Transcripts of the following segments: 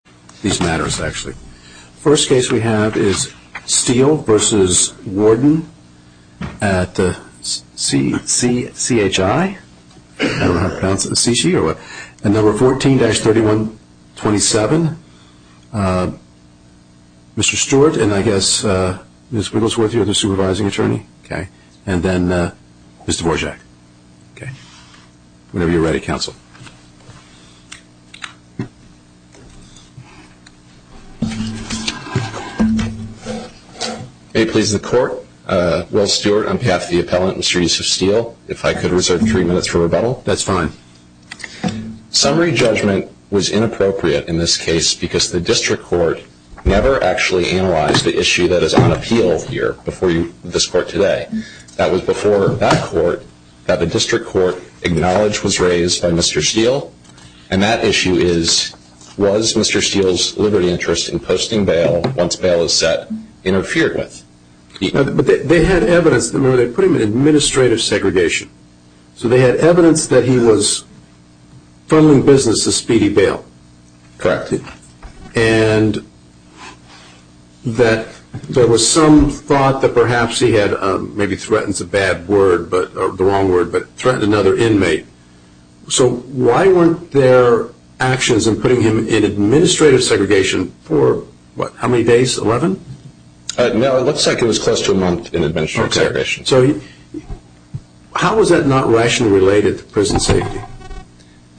14-3127 Mr. Stewart and I guess Ms. Wigglesworth your other supervising attorney and then Mr. Dvorak. Whenever you are ready counsel. May it please the court, Will Stewart on behalf of the appellant, Mr. Yusuf Steele, if I could reserve three minutes for rebuttal. That's fine. Summary judgment was inappropriate in this case because the district court never actually analyzed the issue that is on appeal here before this court today. That was before that court that the district court acknowledged was raised by Mr. Steele. And that issue is, was Mr. Steele's liberty interest in posting bail, once bail is set, interfered with? But they had evidence, they put him in administrative segregation. So they had evidence that he was funneling business to Speedy Bail. Correct. And that there was some thought that perhaps he had, maybe threatens a bad word, or the wrong word, but threatened another inmate. So why weren't there actions in putting him in administrative segregation for what, how many days, 11? No, it looks like it was close to a month in administrative segregation. So how was that not rationally related to prison safety?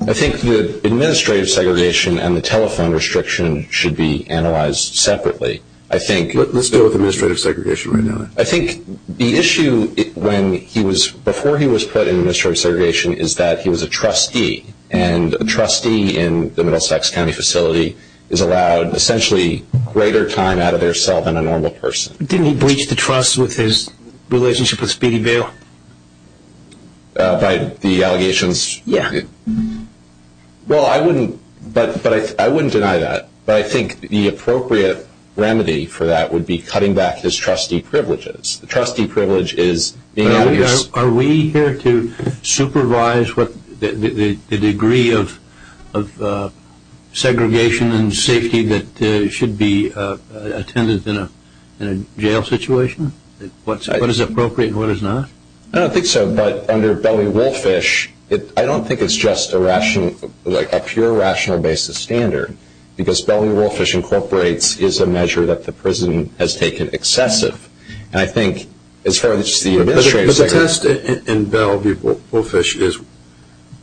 I think the administrative segregation and the telephone restriction should be analyzed separately. Let's deal with administrative segregation right now. I think the issue when he was, before he was put in administrative segregation is that he was a trustee. And a trustee in the Middlesex County facility is allowed essentially greater time out of their cell than a normal person. Didn't he breach the trust with his relationship with Speedy Bail? By the allegations? Yeah. Well, I wouldn't, but I wouldn't deny that. But I think the appropriate remedy for that would be cutting back his trustee privileges. The trustee privilege is being able to Are we here to supervise the degree of segregation and safety that should be attended in a jail situation? What is appropriate and what is not? I don't think so. But under Belly Wolfish, I don't think it's just a rational, like a pure rational basis standard. Because Belly Wolfish incorporates is a measure that the prison has taken excessive. And I think as far as the administrative segregation But the test in Belly Wolfish is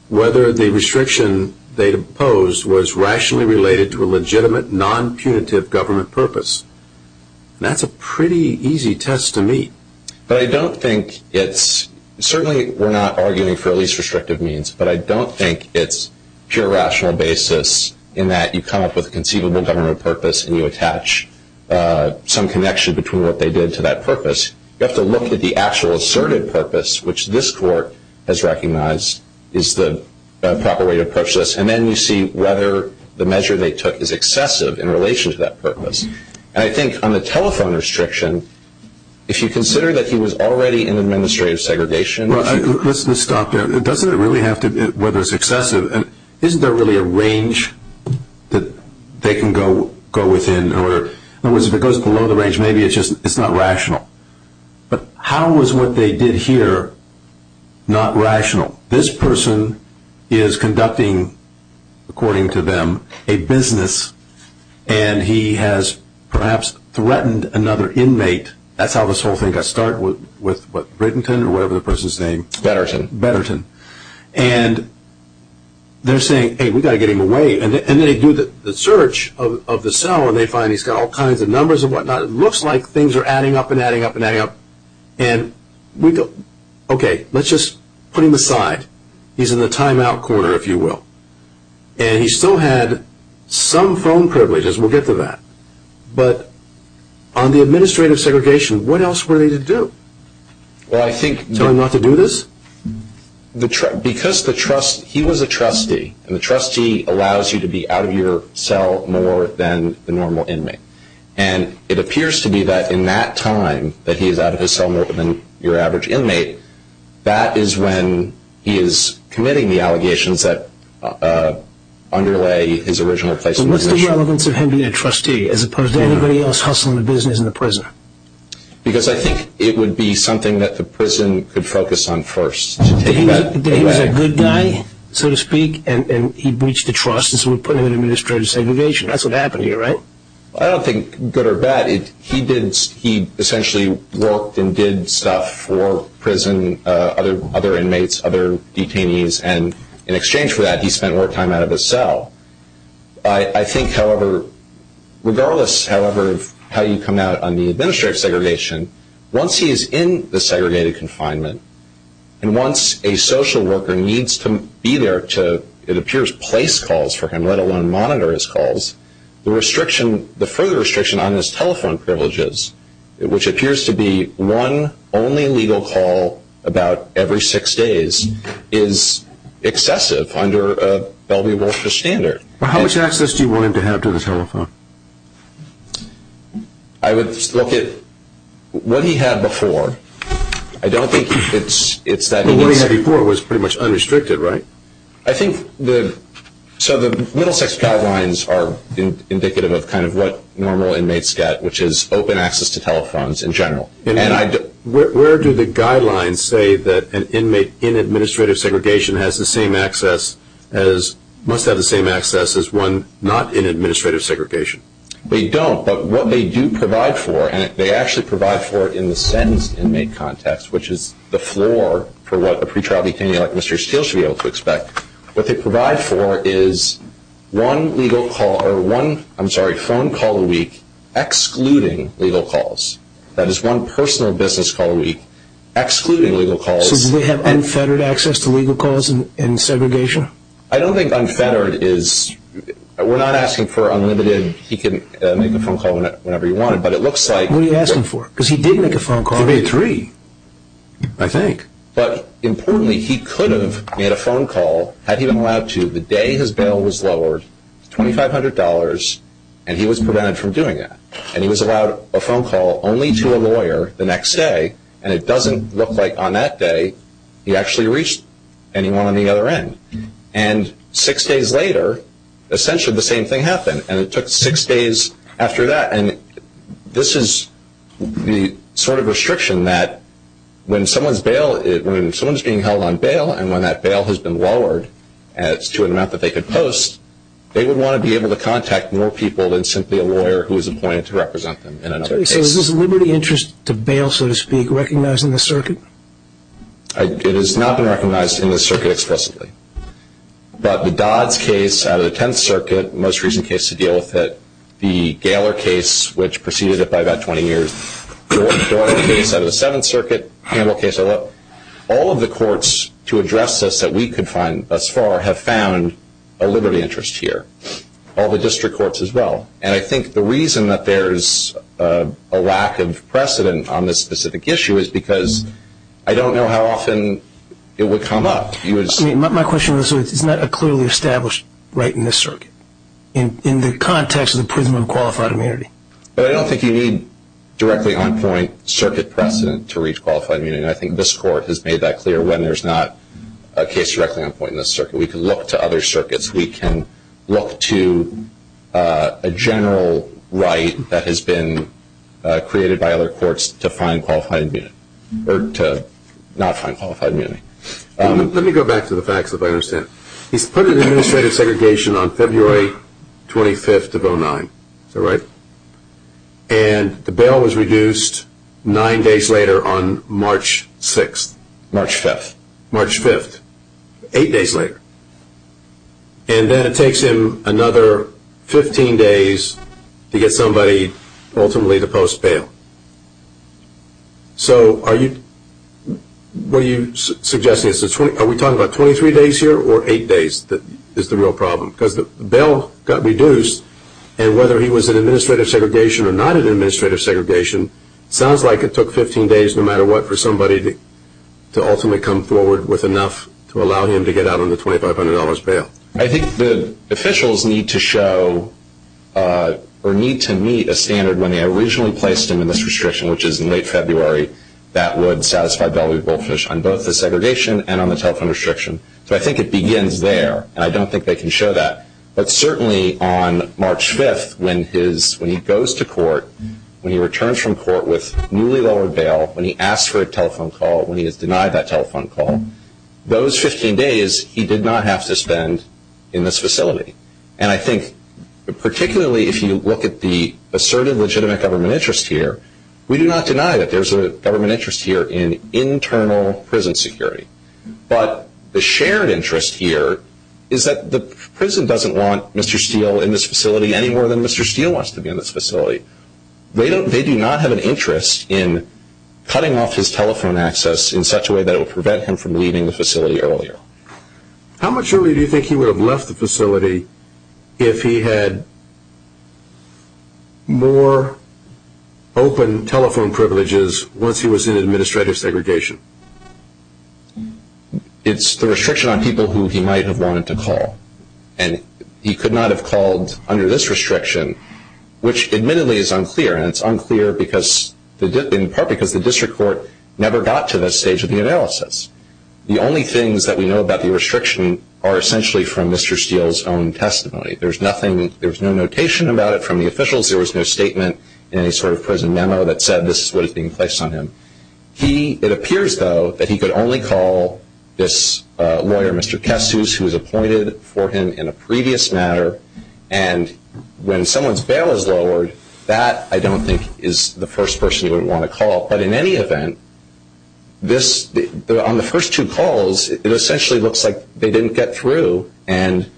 whether the restriction they imposed was rationally related to a legitimate, non-punitive government purpose. And that's a pretty easy test to meet. But I don't think it's, certainly we're not arguing for at least restrictive means, but I don't think it's pure rational basis in that you come up with a conceivable government purpose and you attach some connection between what they did to that purpose. You have to look at the actual asserted purpose, which this court has recognized is the proper way to approach this. And then you see whether the measure they took is excessive in relation to that purpose. And I think on the telephone restriction, if you consider that he was already in administrative segregation Let's just stop there. Doesn't it really have to be whether it's excessive? Isn't there really a range that they can go within? In other words, if it goes below the range, maybe it's just not rational. But how was what they did here not rational? This person is conducting, according to them, a business. And he has perhaps threatened another inmate. That's how this whole thing got started. With what, Bredenton or whatever the person's name? Bredenton. Bredenton. And they're saying, hey, we've got to get him away. And they do the search of the cell, and they find he's got all kinds of numbers and whatnot. It looks like things are adding up and adding up and adding up. And we go, okay, let's just put him aside. He's in the timeout corner, if you will. And he still had some phone privileges. We'll get to that. But on the administrative segregation, what else were they to do? Tell him not to do this? Because he was a trustee, and the trustee allows you to be out of your cell more than the normal inmate. And it appears to be that in that time that he is out of his cell more than your average inmate, that is when he is committing the allegations that underlay his original placement. What's the relevance of him being a trustee as opposed to anybody else hustling a business in the prison? Because I think it would be something that the prison could focus on first. He was a good guy, so to speak, and he breached the trust, and so we put him in administrative segregation. That's what happened here, right? I don't think good or bad. He essentially worked and did stuff for prison, other inmates, other detainees. And in exchange for that, he spent more time out of his cell. I think, however, regardless of how you come out on the administrative segregation, once he is in the segregated confinement, and once a social worker needs to be there to, it appears, place calls for him, let alone monitor his calls, the further restriction on his telephone privileges, which appears to be one only legal call about every six days, is excessive under a Bellevue-Wolfe standard. How much access do you want him to have to the telephone? I would look at what he had before. I don't think it's that he needs... But what he had before was pretty much unrestricted, right? I think the... So the Middlesex Guidelines are indicative of kind of what normal inmates get, which is open access to telephones in general. Where do the guidelines say that an inmate in administrative segregation must have the same access as one not in administrative segregation? They don't, but what they do provide for, and they actually provide for it in the SENDS inmate context, which is the floor for what a pre-trial detainee like Mr. Steele should be able to expect, what they provide for is one phone call a week excluding legal calls. That is one personal business call a week excluding legal calls. So do they have unfettered access to legal calls in segregation? I don't think unfettered is... We're not asking for unlimited, he can make a phone call whenever he wanted, but it looks like... What are you asking for? Because he did make a phone call. He made three, I think. But importantly, he could have made a phone call had he been allowed to the day his bail was lowered, $2,500, and he was prevented from doing that. And he was allowed a phone call only to a lawyer the next day, and it doesn't look like on that day he actually reached anyone on the other end. And six days later, essentially the same thing happened, and it took six days after that. And this is the sort of restriction that when someone is being held on bail and when that bail has been lowered to an amount that they could post, they would want to be able to contact more people than simply a lawyer who is appointed to represent them in another case. So is this liberty interest to bail, so to speak, recognized in this circuit? It has not been recognized in this circuit explicitly. But the Dodds case out of the Tenth Circuit, the most recent case to deal with it, the Gaylor case, which preceded it by about 20 years, the Dornan case out of the Seventh Circuit, the Campbell case, all of the courts to address this that we could find thus far have found a liberty interest here, all the district courts as well. And I think the reason that there is a lack of precedent on this specific issue is because I don't know how often it would come up. My question is, isn't that clearly established right in this circuit, in the context of the prism of qualified immunity? Well, I don't think you need directly on point circuit precedent to reach qualified immunity. I think this court has made that clear when there's not a case directly on point in this circuit. We can look to other circuits. We can look to a general right that has been created by other courts to find qualified immunity or to not find qualified immunity. Let me go back to the facts, if I understand. He's put in administrative segregation on February 25th of 2009. Is that right? And the bail was reduced nine days later on March 6th. March 5th. March 5th. Eight days later. And then it takes him another 15 days to get somebody ultimately to post bail. So what are you suggesting? Are we talking about 23 days here or eight days is the real problem? Because the bail got reduced, and whether he was in administrative segregation or not in administrative segregation, it sounds like it took 15 days no matter what for somebody to ultimately come forward with enough to allow him to get out on the $2,500 bail. I think the officials need to show or need to meet a standard. When they originally placed him in this restriction, which is in late February, that would satisfy Bellary Goldfish on both the segregation and on the telephone restriction. So I think it begins there, and I don't think they can show that. But certainly on March 5th when he goes to court, when he returns from court with newly lowered bail, when he asks for a telephone call, when he is denied that telephone call, those 15 days he did not have to spend in this facility. And I think particularly if you look at the asserted legitimate government interest here, we do not deny that there is a government interest here in internal prison security. But the shared interest here is that the prison doesn't want Mr. Steele in this facility any more than Mr. Steele wants to be in this facility. They do not have an interest in cutting off his telephone access in such a way that will prevent him from leaving the facility earlier. How much earlier do you think he would have left the facility if he had more open telephone privileges once he was in administrative segregation? It's the restriction on people who he might have wanted to call. And he could not have called under this restriction, which admittedly is unclear. And it's unclear in part because the district court never got to this stage of the analysis. The only things that we know about the restriction are essentially from Mr. Steele's own testimony. There's no notation about it from the officials. There was no statement in any sort of prison memo that said this is what is being placed on him. It appears, though, that he could only call this lawyer, Mr. Kessus, who was appointed for him in a previous matter. And when someone's bail is lowered, that I don't think is the first person you would want to call. But in any event, on the first two calls, it essentially looks like they didn't get through and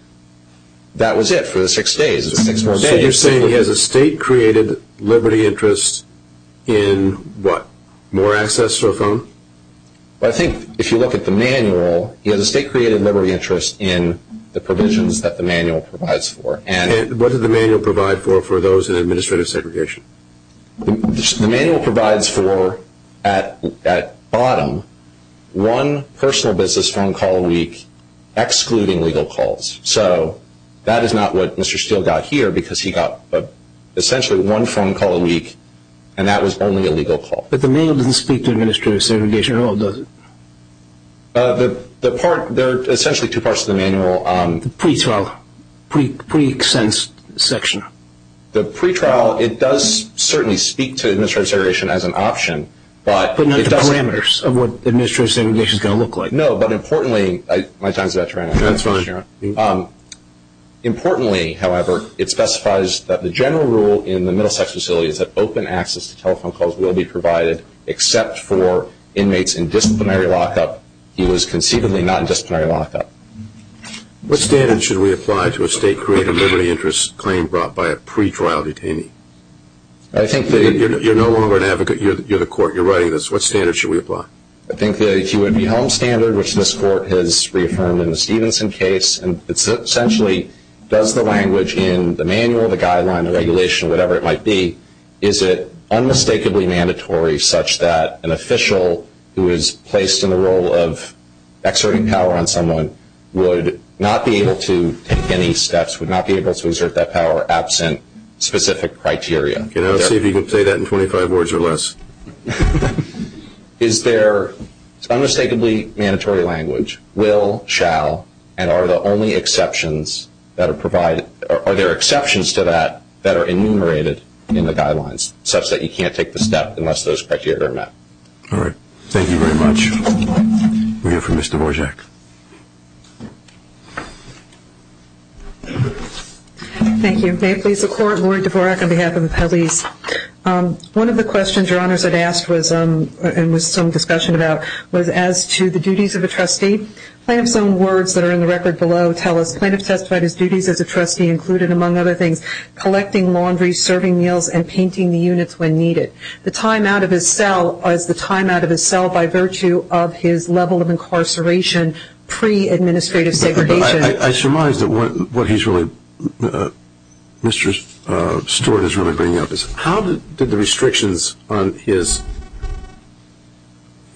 that was it for the six days. So you're saying he has a state-created liberty interest in what, more access to a phone? I think if you look at the manual, he has a state-created liberty interest in the provisions that the manual provides for. And what did the manual provide for for those in administrative segregation? The manual provides for, at bottom, one personal business phone call a week excluding legal calls. So that is not what Mr. Steele got here because he got essentially one phone call a week and that was only a legal call. But the manual doesn't speak to administrative segregation at all, does it? There are essentially two parts to the manual. The pre-trial, pre-extension section. The pre-trial, it does certainly speak to administrative segregation as an option. But not the parameters of what administrative segregation is going to look like. No, but importantly, my time is about to run out. That's fine. Importantly, however, it specifies that the general rule in the Middlesex facility is that open access to telephone calls will be provided except for inmates in disciplinary lockup. He was conceivably not in disciplinary lockup. What standard should we apply to a state-created liberty interest claim brought by a pre-trial detainee? You're no longer an advocate. You're the court. You're writing this. What standard should we apply? I think that he would be home standard, which this court has reaffirmed in the Stevenson case. Essentially, does the language in the manual, the guideline, the regulation, whatever it might be, is it unmistakably mandatory such that an official who is placed in the role of exerting power on someone would not be able to take any steps, would not be able to exert that power absent specific criteria? I'll see if you can say that in 25 words or less. Is there unmistakably mandatory language, will, shall, and are there exceptions to that that are enumerated in the guidelines such that you can't take the step unless those criteria are met? All right. Thank you very much. We have for Ms. Dvorak. Thank you. May it please the Court, Laurie Dvorak on behalf of the police. One of the questions Your Honors had asked was, and was some discussion about, was as to the duties of a trustee. Plaintiff's own words that are in the record below tell us, Plaintiff testified his duties as a trustee included, among other things, collecting laundry, serving meals, and painting the units when needed. The time out of his cell was the time out of his cell by virtue of his level of incarceration pre-administrative segregation. I surmise that what he's really, Mr. Stewart is really bringing up is, how did the restrictions on his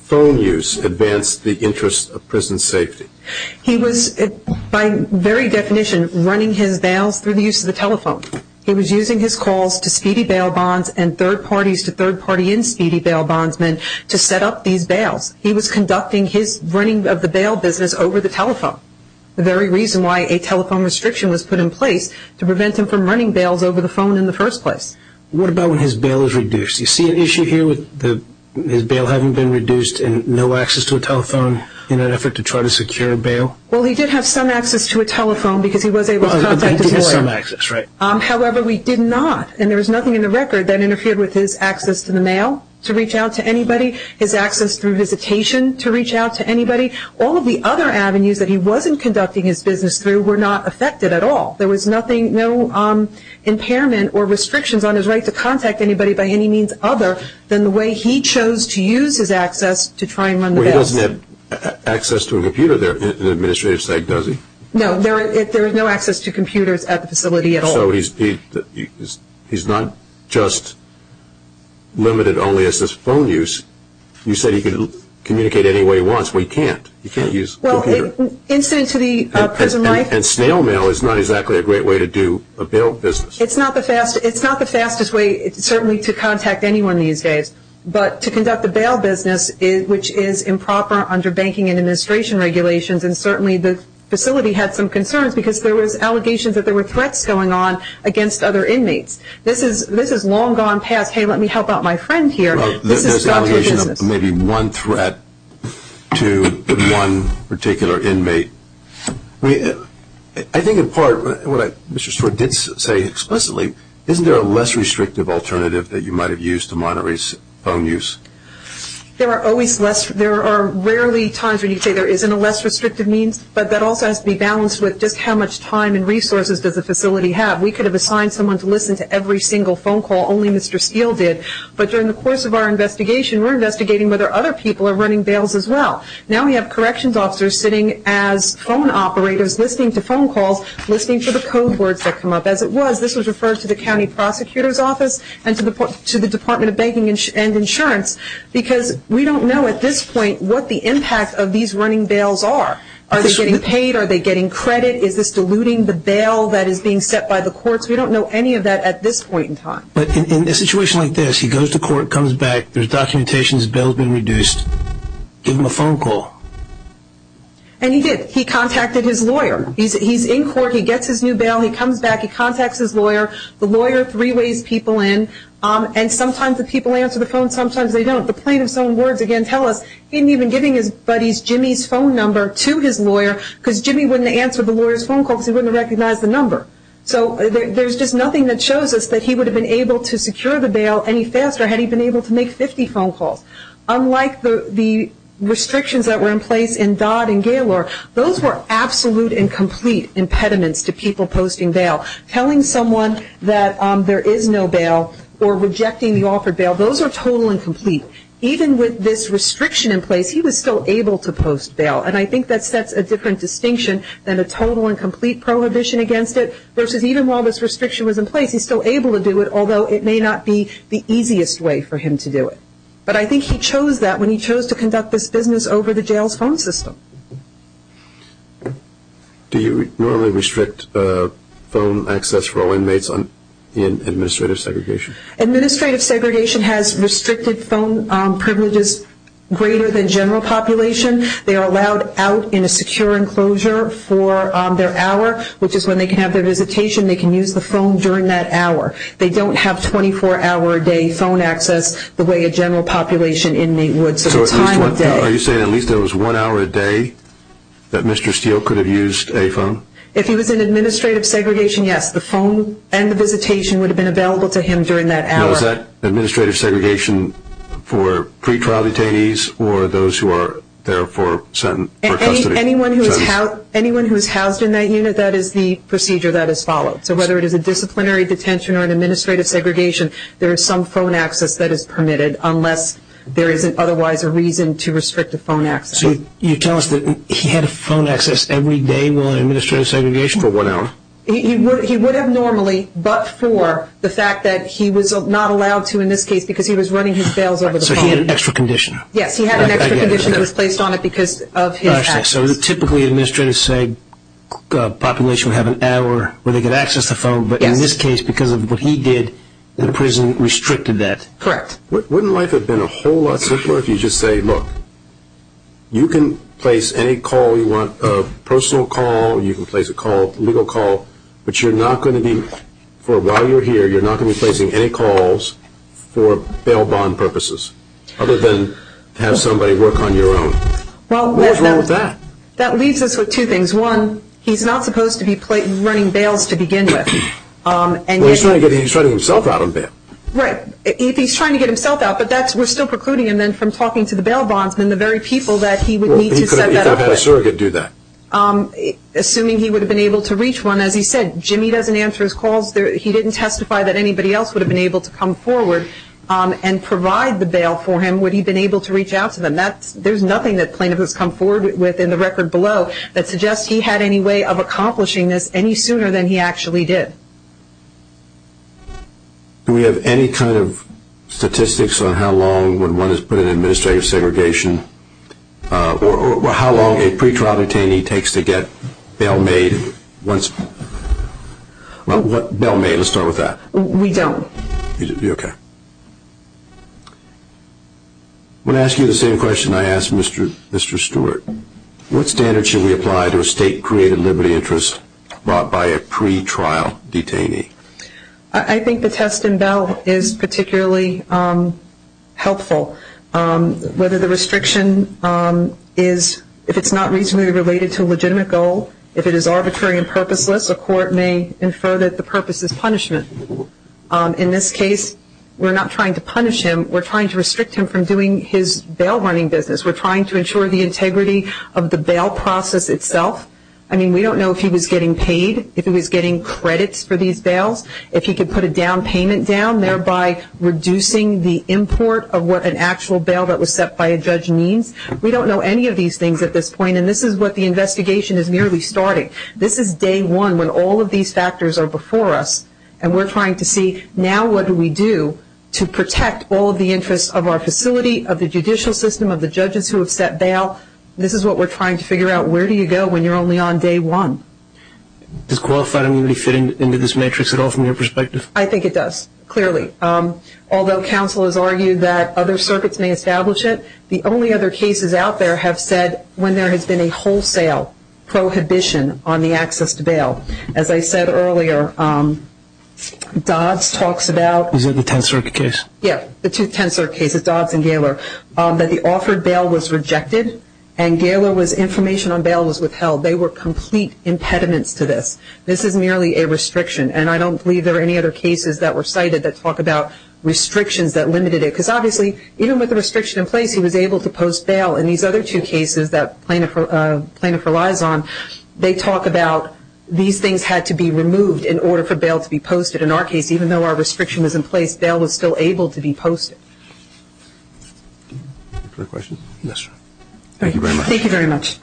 phone use advance the interest of prison safety? He was, by very definition, running his bails through the use of the telephone. He was using his calls to speedy bail bonds and third parties to third party in speedy bail bondsmen to set up these bails. He was conducting his running of the bail business over the telephone. The very reason why a telephone restriction was put in place to prevent him from running bails over the phone in the first place. What about when his bail is reduced? Do you see an issue here with his bail having been reduced and no access to a telephone in an effort to try to secure a bail? Well, he did have some access to a telephone because he was able to contact a lawyer. He did have some access, right. However, we did not, and there was nothing in the record that interfered with his access to the mail to reach out to anybody. His access through visitation to reach out to anybody. All of the other avenues that he wasn't conducting his business through were not affected at all. There was nothing, no impairment or restrictions on his right to contact anybody by any means other than the way he chose to use his access to try and run the bails. Well, he doesn't have access to a computer there in an administrative state, does he? No, there is no access to computers at the facility at all. So he's not just limited only as his phone use. You said he could communicate any way he wants, but he can't. He can't use a computer. Well, incident to the prison life. And snail mail is not exactly a great way to do a bail business. It's not the fastest way certainly to contact anyone these days. But to conduct a bail business, which is improper under banking and administration regulations, and certainly the facility had some concerns because there was allegations that there were threats going on against other inmates. This is long gone past, hey, let me help out my friend here. This is about your business. Maybe one threat to one particular inmate. I think in part, what Mr. Stewart did say explicitly, isn't there a less restrictive alternative that you might have used to monitor his phone use? There are rarely times when you say there isn't a less restrictive means, but that also has to be balanced with just how much time and resources does the facility have. We could have assigned someone to listen to every single phone call. Only Mr. Steele did. But during the course of our investigation, we're investigating whether other people are running bails as well. Now we have corrections officers sitting as phone operators listening to phone calls, listening for the code words that come up. As it was, this was referred to the county prosecutor's office and to the Department of Banking and Insurance because we don't know at this point what the impact of these running bails are. Are they getting paid? Are they getting credit? Is this diluting the bail that is being set by the courts? We don't know any of that at this point in time. But in a situation like this, he goes to court, comes back, there's documentation, his bail has been reduced. Give him a phone call. And he did. He contacted his lawyer. He's in court. He gets his new bail. He comes back. He contacts his lawyer. The lawyer three-ways people in. And sometimes the people answer the phone, sometimes they don't. The plaintiff's own words, again, tell us he didn't even give his buddy Jimmy's phone number to his lawyer because Jimmy wouldn't answer the lawyer's phone call because he wouldn't recognize the number. So there's just nothing that shows us that he would have been able to secure the bail any faster had he been able to make 50 phone calls. Unlike the restrictions that were in place in Dodd and Gaylor, those were absolute and complete impediments to people posting bail. Telling someone that there is no bail or rejecting the offered bail, those are total and complete. Even with this restriction in place, he was still able to post bail. And I think that sets a different distinction than a total and complete prohibition against it, versus even while this restriction was in place, he's still able to do it, although it may not be the easiest way for him to do it. But I think he chose that when he chose to conduct this business over the jail's phone system. Do you normally restrict phone access for all inmates in administrative segregation? Administrative segregation has restricted phone privileges greater than general population. They are allowed out in a secure enclosure for their hour, which is when they can have their visitation. They can use the phone during that hour. They don't have 24-hour-a-day phone access the way a general population inmate would. So at least one hour a day that Mr. Steele could have used a phone? If he was in administrative segregation, yes. The phone and the visitation would have been available to him during that hour. Now is that administrative segregation for pretrial detainees or those who are there for custody? Anyone who is housed in that unit, that is the procedure that is followed. So whether it is a disciplinary detention or an administrative segregation, there is some phone access that is permitted unless there is otherwise a reason to restrict the phone access. So you tell us that he had a phone access every day while in administrative segregation for one hour? He would have normally, but for the fact that he was not allowed to in this case because he was running his bails over the phone. So he had an extra condition? Yes, he had an extra condition that was placed on it because of his access. So typically administrators say a population would have an hour where they could access the phone, but in this case because of what he did, the prison restricted that? Correct. Wouldn't life have been a whole lot simpler if you just say, look, you can place any call you want, a personal call, you can place a legal call, but you are not going to be, while you are here, you are not going to be placing any calls for bail bond purposes other than to have somebody work on your own. What was wrong with that? That leaves us with two things. One, he is not supposed to be running bails to begin with. He is trying to get himself out of bail. Right. He is trying to get himself out, but we are still precluding him from talking to the bail bondsman, the very people that he would need to set that up with. He could have had a surrogate do that. Assuming he would have been able to reach one, as he said, Jimmy doesn't answer his calls, he didn't testify that anybody else would have been able to come forward and provide the bail for him would he have been able to reach out to them. There is nothing that plaintiff has come forward with in the record below that suggests he had any way of accomplishing this any sooner than he actually did. Do we have any kind of statistics on how long would one put in administrative segregation or how long a pretrial detainee takes to get bail made? Let's start with that. We don't. Okay. I'm going to ask you the same question I asked Mr. Stewart. What standard should we apply to a state created liberty interest brought by a pretrial detainee? I think the test in bail is particularly helpful. Whether the restriction is, if it's not reasonably related to a legitimate goal, if it is arbitrary and purposeless, a court may infer that the purpose is punishment. In this case, we're not trying to punish him. We're trying to restrict him from doing his bail running business. We're trying to ensure the integrity of the bail process itself. I mean, we don't know if he was getting paid, if he was getting credits for these bails, if he could put a down payment down, thereby reducing the import of what an actual bail that was set by a judge means. We don't know any of these things at this point, and this is what the investigation is merely starting. This is day one when all of these factors are before us, and we're trying to see now what do we do to protect all of the interests of our facility, of the judicial system, of the judges who have set bail. This is what we're trying to figure out. Where do you go when you're only on day one? Does qualified immunity fit into this matrix at all from your perspective? I think it does, clearly. Although counsel has argued that other circuits may establish it, the only other cases out there have said when there has been a wholesale prohibition on the access to bail. As I said earlier, Dodds talks about- Is it the Tenth Circuit case? Yes, the Tenth Circuit case, Dodds and Gaylor, that the offered bail was rejected and information on bail was withheld. They were complete impediments to this. This is merely a restriction, and I don't believe there are any other cases that were cited that talk about restrictions that limited it. Because obviously, even with the restriction in place, he was able to post bail. In these other two cases that plaintiff relies on, they talk about these things had to be removed in order for bail to be posted. In our case, even though our restriction was in place, bail was still able to be posted. Other questions? Yes, sir. Thank you very much.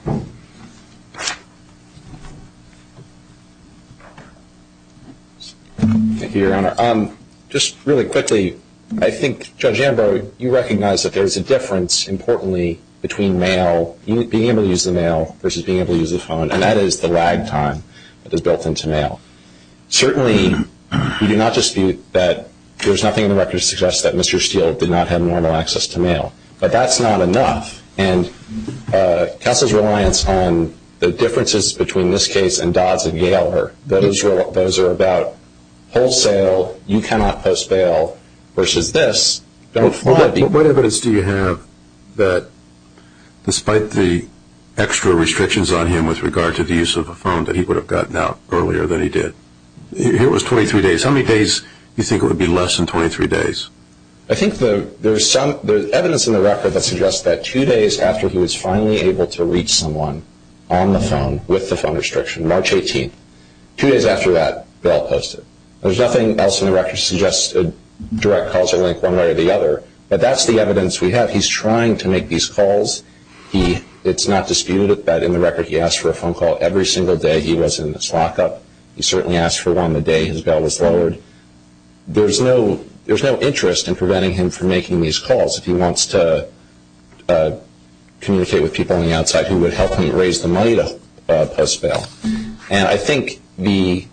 Thank you, Your Honor. Just really quickly, I think Judge Ambrose, you recognize that there is a difference, importantly, between being able to use the mail versus being able to use the phone, and that is the lag time that is built into mail. Certainly, you do not dispute that there is nothing in the record that suggests that Mr. Steele did not have normal access to mail. But that's not enough, and counsel's reliance on the differences between this case and Dodds and Gaylor, that those are about wholesale, you cannot post bail, versus this, don't fly. What evidence do you have that, despite the extra restrictions on him with regard to the use of a phone, that he would have gotten out earlier than he did? It was 23 days. How many days do you think it would be less than 23 days? I think there's evidence in the record that suggests that two days after he was finally able to reach someone on the phone, with the phone restriction, March 18th, two days after that, bail posted. There's nothing else in the record that suggests a direct causal link one way or the other, but that's the evidence we have. He's trying to make these calls. It's not disputed that, in the record, he asked for a phone call every single day he was in this lockup. He certainly asked for one the day his bail was lowered. There's no interest in preventing him from making these calls. If he wants to communicate with people on the outside who would help him raise the money to post bail. And I think the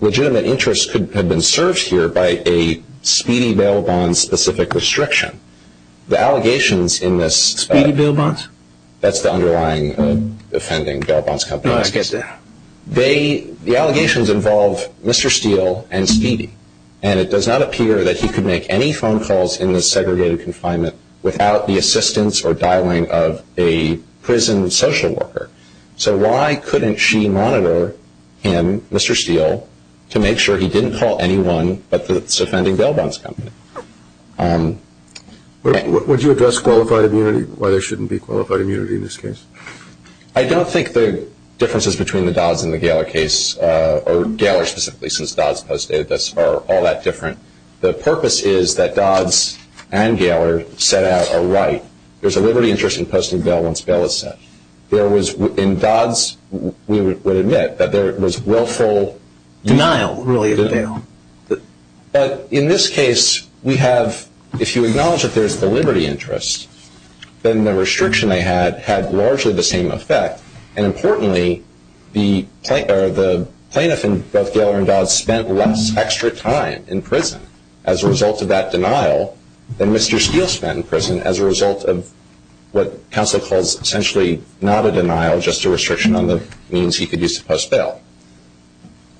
legitimate interest could have been served here by a Speedy Bail Bonds specific restriction. The allegations in this. Speedy Bail Bonds? That's the underlying offending, Bail Bonds Company. No, I get that. The allegations involve Mr. Steele and Speedy, and it does not appear that he could make any phone calls in this segregated confinement without the assistance or dialing of a prison social worker. So why couldn't she monitor him, Mr. Steele, to make sure he didn't call anyone but this offending Bail Bonds Company? Would you address qualified immunity, why there shouldn't be qualified immunity in this case? I don't think the differences between the Dodds and the Gaylor case, or Gaylor specifically since Dodds posted this, are all that different. The purpose is that Dodds and Gaylor set out a right. There's a liberty interest in posting bail once bail is set. In Dodds, we would admit that there was willful denial, really, of bail. But in this case, if you acknowledge that there's the liberty interest, then the restriction they had had largely the same effect. And importantly, the plaintiff in both Gaylor and Dodds spent less extra time in prison as a result of that denial than Mr. Steele spent in prison as a result of what counsel calls essentially not a denial, just a restriction on the means he could use to post bail.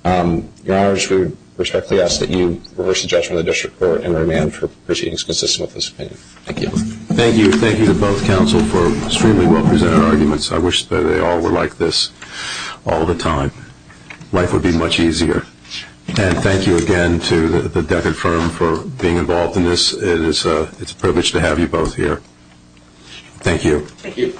Your Honors, we respectfully ask that you reverse the judgment of the District Court and remand for proceedings consistent with this opinion. Thank you. Thank you. Thank you to both counsel for extremely well-presented arguments. I wish that they all were like this all the time. Life would be much easier. And thank you again to the Decker firm for being involved in this. It's a privilege to have you both here. Thank you. Thank you.